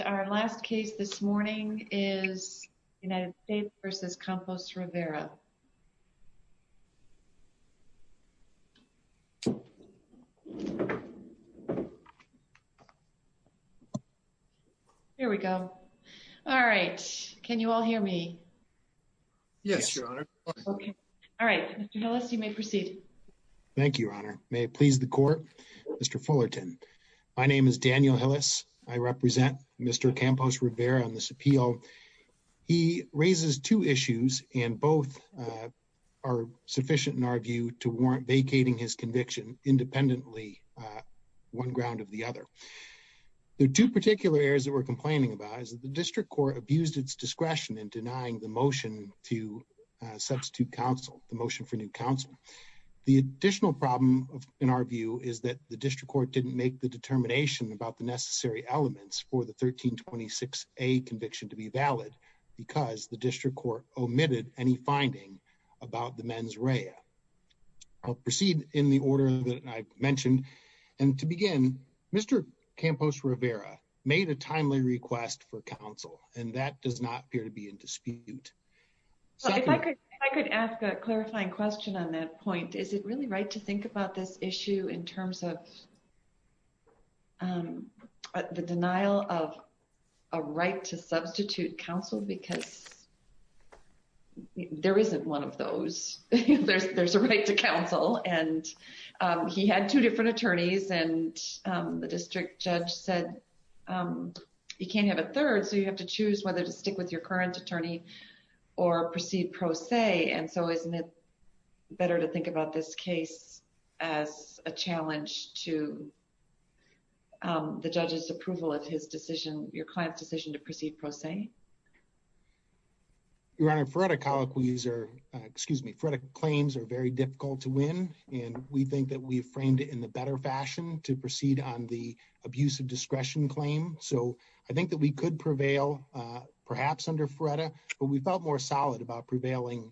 And our last case this morning is United States v. Campos-Rivera. Here we go. All right. Can you all hear me? Yes, Your Honor. Okay. All right. Mr. Hillis, you may proceed. Thank you, Your Honor. May it please the Court. Mr. Fullerton, my name is Daniel Hillis. I represent Mr. Campos-Rivera on this appeal. He raises two issues, and both are sufficient, in our view, to warrant vacating his conviction independently, one ground of the other. The two particular areas that we're complaining about is that the District Court abused its discretion in denying the motion to substitute counsel, the motion for new counsel. The additional problem, in our view, is that the District Court didn't make the determination about the necessary elements for the 1326A conviction to be valid because the District Court omitted any finding about the mens rea. I'll proceed in the order that I mentioned. And to begin, Mr. Campos-Rivera made a timely request for counsel, and that does not appear to be in dispute. If I could ask a clarifying question on that point, is it really right to think about this the denial of a right to substitute counsel, because there isn't one of those. There's a right to counsel, and he had two different attorneys, and the district judge said you can't have a third, so you have to choose whether to stick with your current attorney or proceed pro se, and so isn't it better to think about this case as a challenge to the judge's approval of his decision, your client's decision to proceed pro se? Your Honor, FRERDA colloquies are, excuse me, FRERDA claims are very difficult to win, and we think that we framed it in a better fashion to proceed on the abuse of discretion claim, so I think that we could prevail, perhaps under FRERDA, but we felt more solid about prevailing,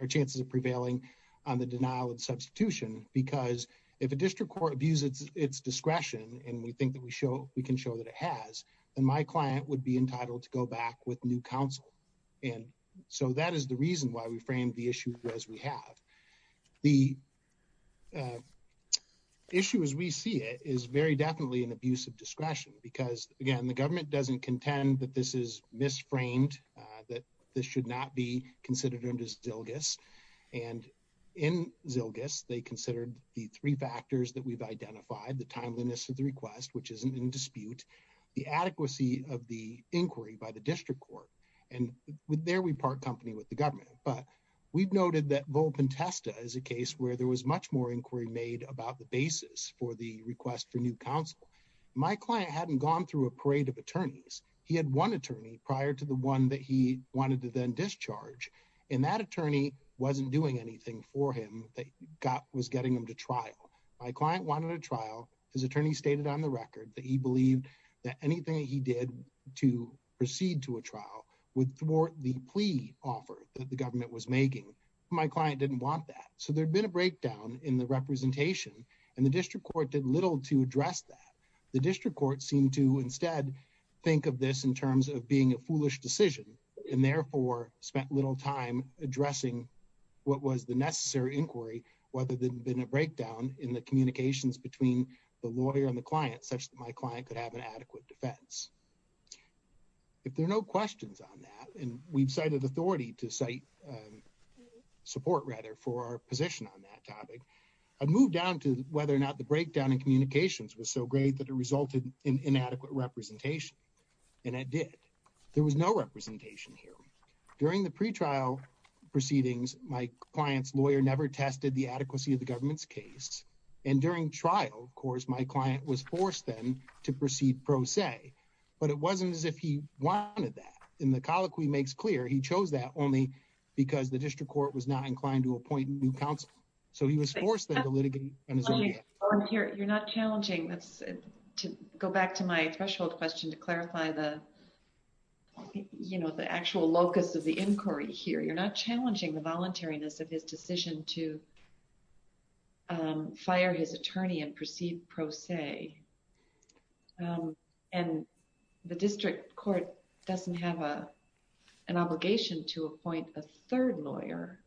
or chances of prevailing on the denial of substitution, because if a District Court abuses its discretion, and we think that we can show that it has, then my client would be entitled to go back with new counsel, and so that is the reason why we framed the issue as we have. The issue as we see it is very definitely an abuse of discretion, because again, the government doesn't contend that this is misframed, that this should not be considered under Zilgis, and in Zilgis, they considered the three factors that we've identified, the timeliness of the request, which isn't in dispute, the adequacy of the inquiry by the District Court, and there we part company with the government, but we've noted that Volp and Testa is a case where there was much more inquiry made about the basis for the request for new counsel. My client hadn't gone through a parade of attorneys. He had one attorney prior to the one that he wanted to then discharge, and that attorney wasn't doing anything for him that was getting him to trial. My client wanted a trial, his attorney stated on the record that he believed that anything he did to proceed to a trial would thwart the plea offer that the government was making. My client didn't want that, so there had been a breakdown in the representation, and the District Court did little to address that. The District Court seemed to, instead, think of this in terms of being a foolish decision, and therefore spent little time addressing what was the necessary inquiry, whether there had been a breakdown in the communications between the lawyer and the client, such that my client could have an adequate defense. If there are no questions on that, and we've cited authority to cite support, rather, for our position on that topic, I'd move down to whether or not the breakdown in communications was so great that it resulted in inadequate representation, and it did. There was no representation here. During the pretrial proceedings, my client's lawyer never tested the adequacy of the government's case, and during trial, of course, my client was forced then to proceed pro se. But it wasn't as if he wanted that, and the colloquy makes clear he chose that only because the District Court was not inclined to appoint new counsel, so he was forced then to litigate on his own behalf. You're not challenging, to go back to my threshold question to clarify the actual locus of the inquiry here, you're not challenging the voluntariness of his decision to fire his attorney and proceed pro se, and the District Court doesn't have an obligation to appoint a third lawyer.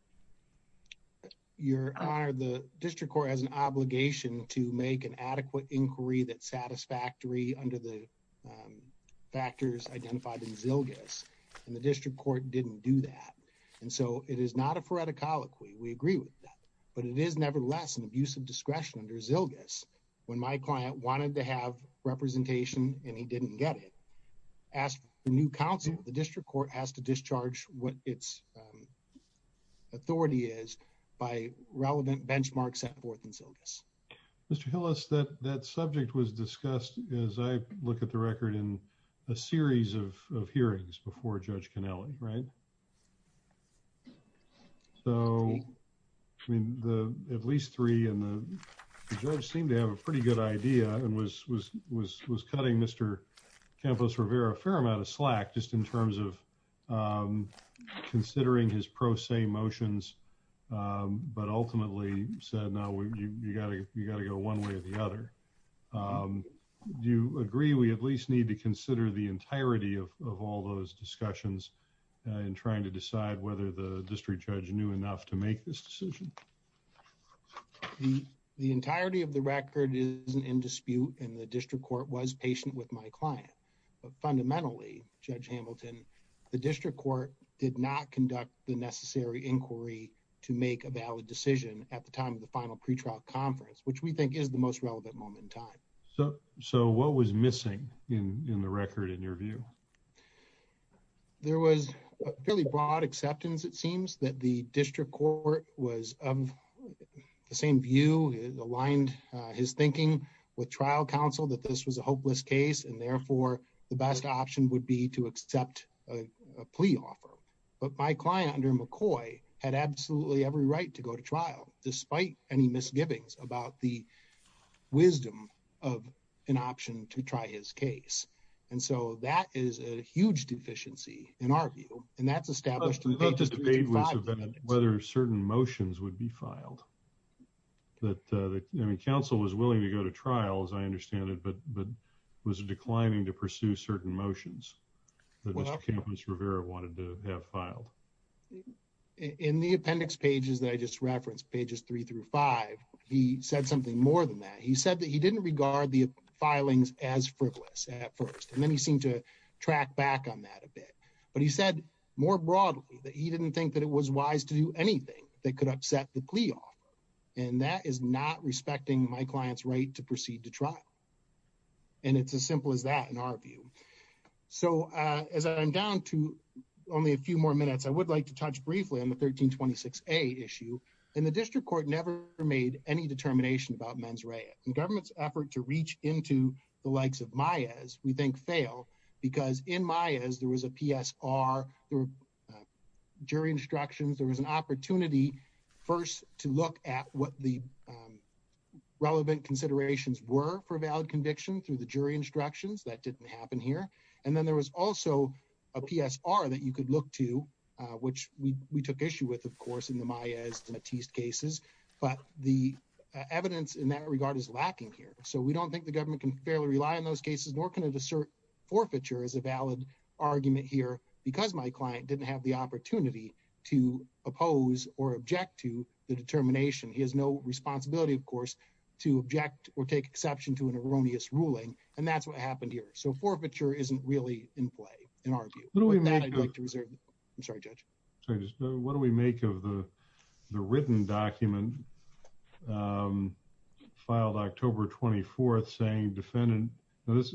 Your Honor, the District Court has an obligation to make an adequate inquiry that's satisfactory under the factors identified in Zilgis, and the District Court didn't do that, and so it is not a phoretic colloquy, we agree with that, but it is nevertheless an abuse of discretion under Zilgis. When my client wanted to have representation and he didn't get it, as for new counsel, the District Court has to discharge what its authority is by relevant benchmarks set forth in Zilgis. Mr. Hillis, that subject was discussed, as I look at the record, in a series of hearings before Judge Cannelli, right? So, I mean, at least three, and the judge seemed to have a pretty good idea and was in terms of considering his pro se motions, but ultimately said, no, you've got to go one way or the other. Do you agree we at least need to consider the entirety of all those discussions in trying to decide whether the District Judge knew enough to make this decision? The entirety of the record isn't in dispute, and the District Court was patient with my client, and the District Court did not conduct the necessary inquiry to make a valid decision at the time of the final pretrial conference, which we think is the most relevant moment in time. So, what was missing in the record, in your view? There was a fairly broad acceptance, it seems, that the District Court was of the same view, aligned his thinking with trial counsel, that this was a hopeless case, and therefore the best option would be to accept a plea offer. But my client, under McCoy, had absolutely every right to go to trial, despite any misgivings about the wisdom of an option to try his case. And so, that is a huge deficiency, in our view, and that's established in page 35 of the indictment. I thought the debate was whether certain motions would be filed, that, I mean, counsel was declining to pursue certain motions that Mr. Campos-Rivera wanted to have filed. In the appendix pages that I just referenced, pages three through five, he said something more than that. He said that he didn't regard the filings as frivolous at first, and then he seemed to track back on that a bit. But he said, more broadly, that he didn't think that it was wise to do anything that could upset the plea offer, and that is not respecting my client's right to proceed to trial. And it's as simple as that, in our view. So, as I'm down to only a few more minutes, I would like to touch briefly on the 1326A issue. And the district court never made any determination about mens rea. The government's effort to reach into the likes of Maez, we think, failed, because in Maez, there was a PSR, there were jury instructions, there was an opportunity, first, to look at what the relevant considerations were for a valid conviction through the jury instructions. That didn't happen here. And then there was also a PSR that you could look to, which we took issue with, of course, in the Maez-Matisse cases. But the evidence in that regard is lacking here. So we don't think the government can fairly rely on those cases, nor can it assert forfeiture as a valid argument here, because my client didn't have the opportunity to oppose or object to the determination. He has no responsibility, of course, to object or take exception to an erroneous ruling. And that's what happened here. So forfeiture isn't really in play, in our view. With that, I'd like to reserve the floor. I'm sorry, Judge. What do we make of the written document, filed October 24th, saying defendant, this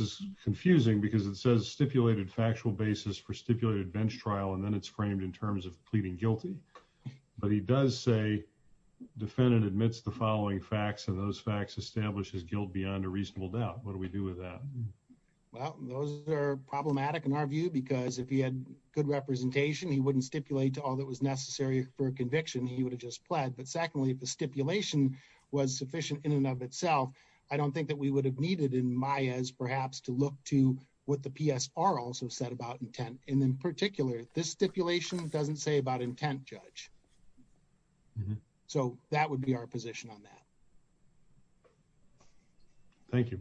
is confusing because it says stipulated factual basis for stipulated bench trial, and then it's framed in terms of pleading guilty. But he does say defendant admits the following facts, and those facts establishes guilt beyond a reasonable doubt. What do we do with that? Well, those are problematic in our view, because if he had good representation, he wouldn't stipulate to all that was necessary for a conviction. He would have just pled. But secondly, if the stipulation was sufficient in and of itself, I don't think that we would have needed in Maez, perhaps, to look to what the PSR also said about intent. And in particular, this stipulation doesn't say about intent, Judge. So that would be our position on that. Thank you.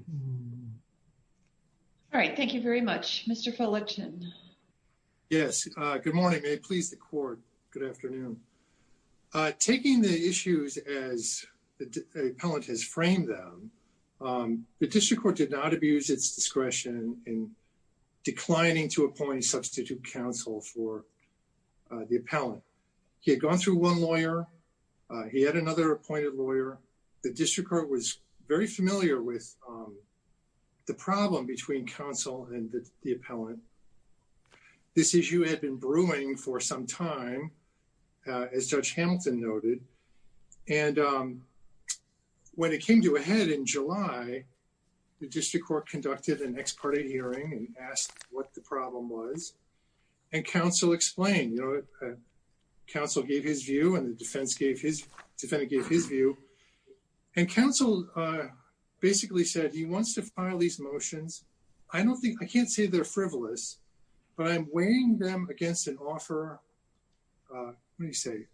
All right. Thank you very much. Mr. Felichin. Yes. Good morning. May it please the court. Good afternoon. Taking the issues as the appellant has framed them, the district court did not abuse its discretion in declining to appoint a substitute counsel for the appellant. He had gone through one lawyer. He had another appointed lawyer. The district court was very familiar with the problem between counsel and the appellant. This issue had been brewing for some time, as Judge Hamilton noted. And when it came to a head in July, the district court conducted an ex parte hearing and asked what the problem was. And counsel explained. Counsel gave his view and the defendant gave his view. And counsel basically said he wants to file these motions. I can't say they're frivolous, but I'm weighing them against an offer. What do you say?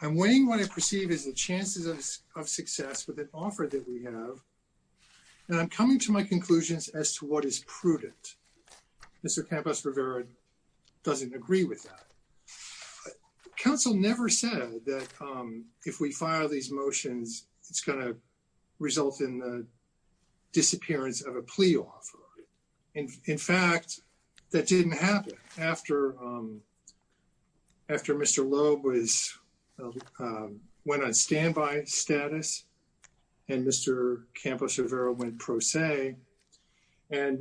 I'm weighing what I perceive as the chances of success with an offer that we have. And I'm coming to my conclusions as to what is prudent. Mr. Campos Rivera doesn't agree with that. Counsel never said that if we file these motions, it's going to result in the disappearance of a plea offer. In fact, that didn't happen. After Mr. Loeb went on standby status and Mr. Campos Rivera went pro se, and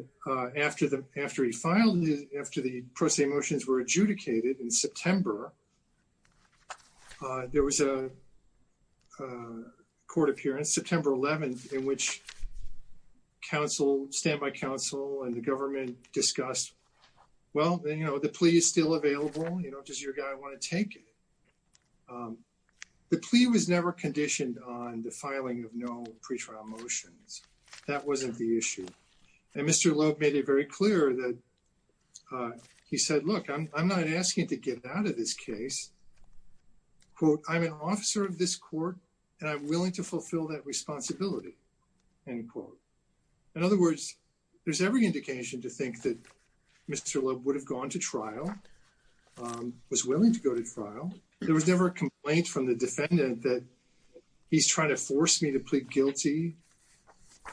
after he filed, after the pro se motions were adjudicated in September, there was a court appearance, September 11th, in which counsel, standby counsel and the government discussed, well, the plea is still available. Does your guy want to take it? The plea was never conditioned on the filing of no pretrial motions. That wasn't the issue. And Mr. Loeb made it very clear that he said, look, I'm not asking to get out of this case. I'm an officer of this court, and I'm willing to fulfill that responsibility, end quote. In other words, there's every indication to think that Mr. Loeb would have gone to trial, was willing to go to trial. There was never a complaint from the defendant that he's trying to force me to plead guilty.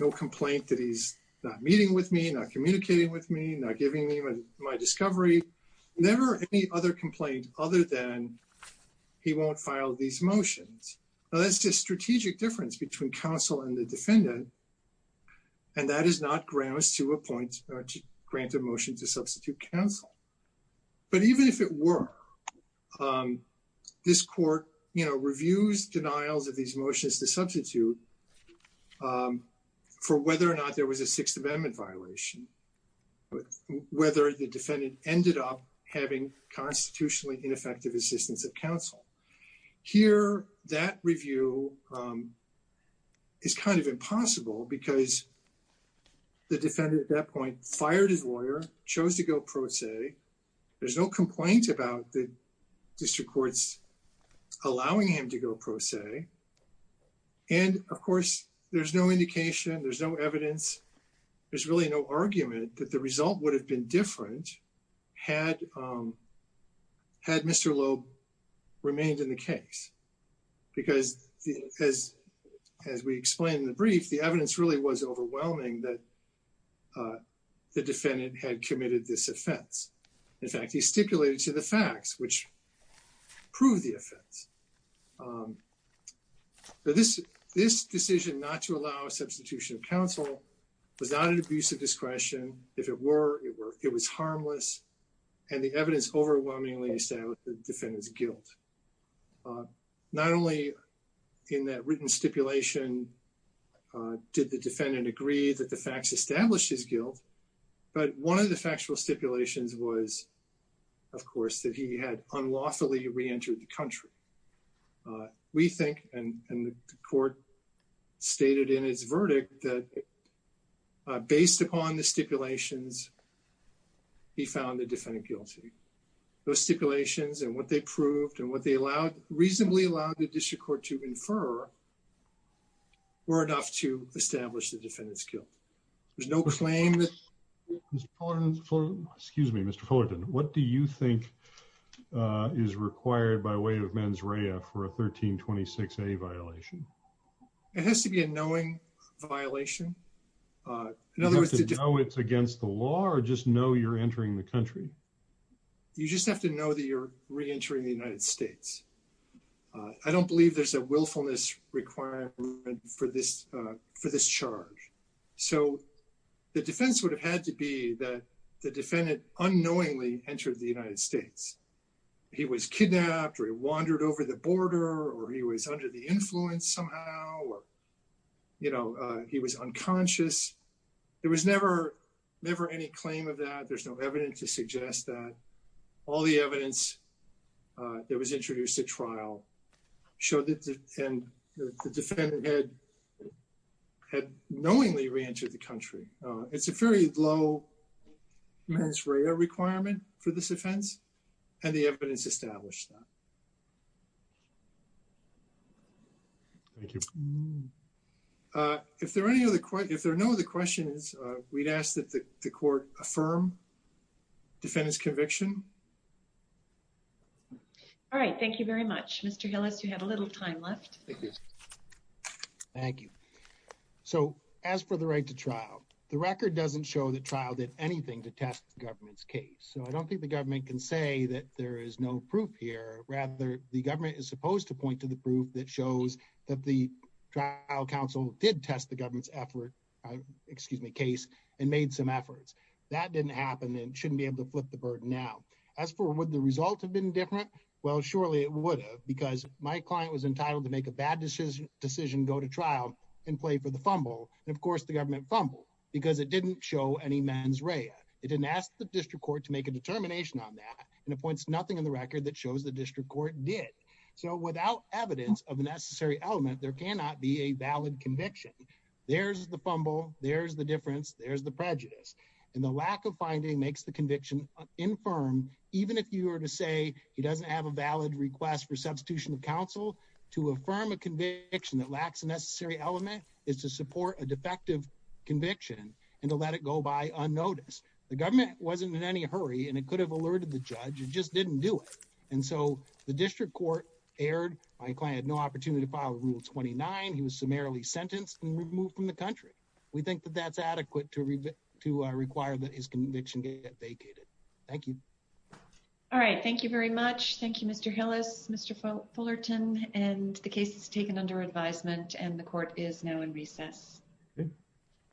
No complaint that he's not meeting with me, not communicating with me, not giving me my discovery. Never any other complaint other than he won't file these motions. Now, that's just strategic difference between counsel and the defendant, and that is not grounds to appoint or to grant a motion to substitute counsel. But even if it were, this court, you know, reviews denials of these motions to substitute for whether or not there was a Sixth Amendment violation, whether the defendant ended up having constitutionally ineffective assistance of counsel. Here that review is kind of impossible because the defendant at that point fired his lawyer, chose to go pro se. There's no complaint about the district courts allowing him to go pro se. And of course, there's no indication, there's no evidence, there's really no argument that the result would have been different had Mr. Loeb remained in the case. Because as we explained in the brief, the evidence really was overwhelming that the In fact, he stipulated to the facts, which proved the offense. This decision not to allow a substitution of counsel was not an abuse of discretion. If it were, it was harmless. And the evidence overwhelmingly established the defendant's guilt. Not only in that written stipulation did the defendant agree that the facts established his guilt, but one of the factual stipulations was, of course, that he had unlawfully reentered the country. We think, and the court stated in its verdict that based upon the stipulations, he found the defendant guilty. Those stipulations and what they proved and what they allowed, reasonably allowed the There's no claim that Mr. Fullerton, excuse me, Mr. Fullerton, what do you think is required by way of mens rea for a 1326A violation? It has to be a knowing violation. In other words, you have to know it's against the law or just know you're entering the country? You just have to know that you're reentering the United States. I don't believe there's a willfulness requirement for this charge. So the defense would have had to be that the defendant unknowingly entered the United States. He was kidnapped or he wandered over the border or he was under the influence somehow or, you know, he was unconscious. There was never any claim of that. There's no evidence to suggest that. All the evidence that was introduced at trial showed that the defendant had knowingly reentered the country. It's a very low mens rea requirement for this offense. And the evidence established that. Thank you. If there are any other questions, if there are no other questions, we'd ask that the court affirm defendant's conviction. All right, thank you very much, Mr. Hillis, you have a little time left. Thank you. So as for the right to trial, the record doesn't show the trial did anything to test the government's case. So I don't think the government can say that there is no proof here. Rather, the government is supposed to point to the proof that shows that the trial counsel did test the government's effort, excuse me, case and made some efforts. That didn't happen and shouldn't be able to flip the burden now. As for what the result have been different. Well, surely it would have, because my client was entitled to make a bad decision, decision, go to trial and play for the fumble. And of course, the government fumbled because it didn't show any mens rea. It didn't ask the district court to make a determination on that and appoints nothing in the record that shows the district court did. So without evidence of a necessary element, there cannot be a valid conviction. There's the fumble. There's the difference. There's the prejudice. And the lack of finding makes the conviction infirm, even if you were to say he doesn't have a valid request for substitution of counsel to affirm a conviction that lacks a necessary element is to support a defective conviction and to let it go by unnoticed. The government wasn't in any hurry and it could have alerted the judge. It just didn't do it. And so the district court erred. My client had no opportunity to file rule twenty nine. He was summarily sentenced and removed from the country. We think that that's adequate to to require that his conviction get vacated. Thank you. All right. Thank you very much. Thank you, Mr. Hillis, Mr. Fullerton. And the case is taken under advisement and the court is now in recess.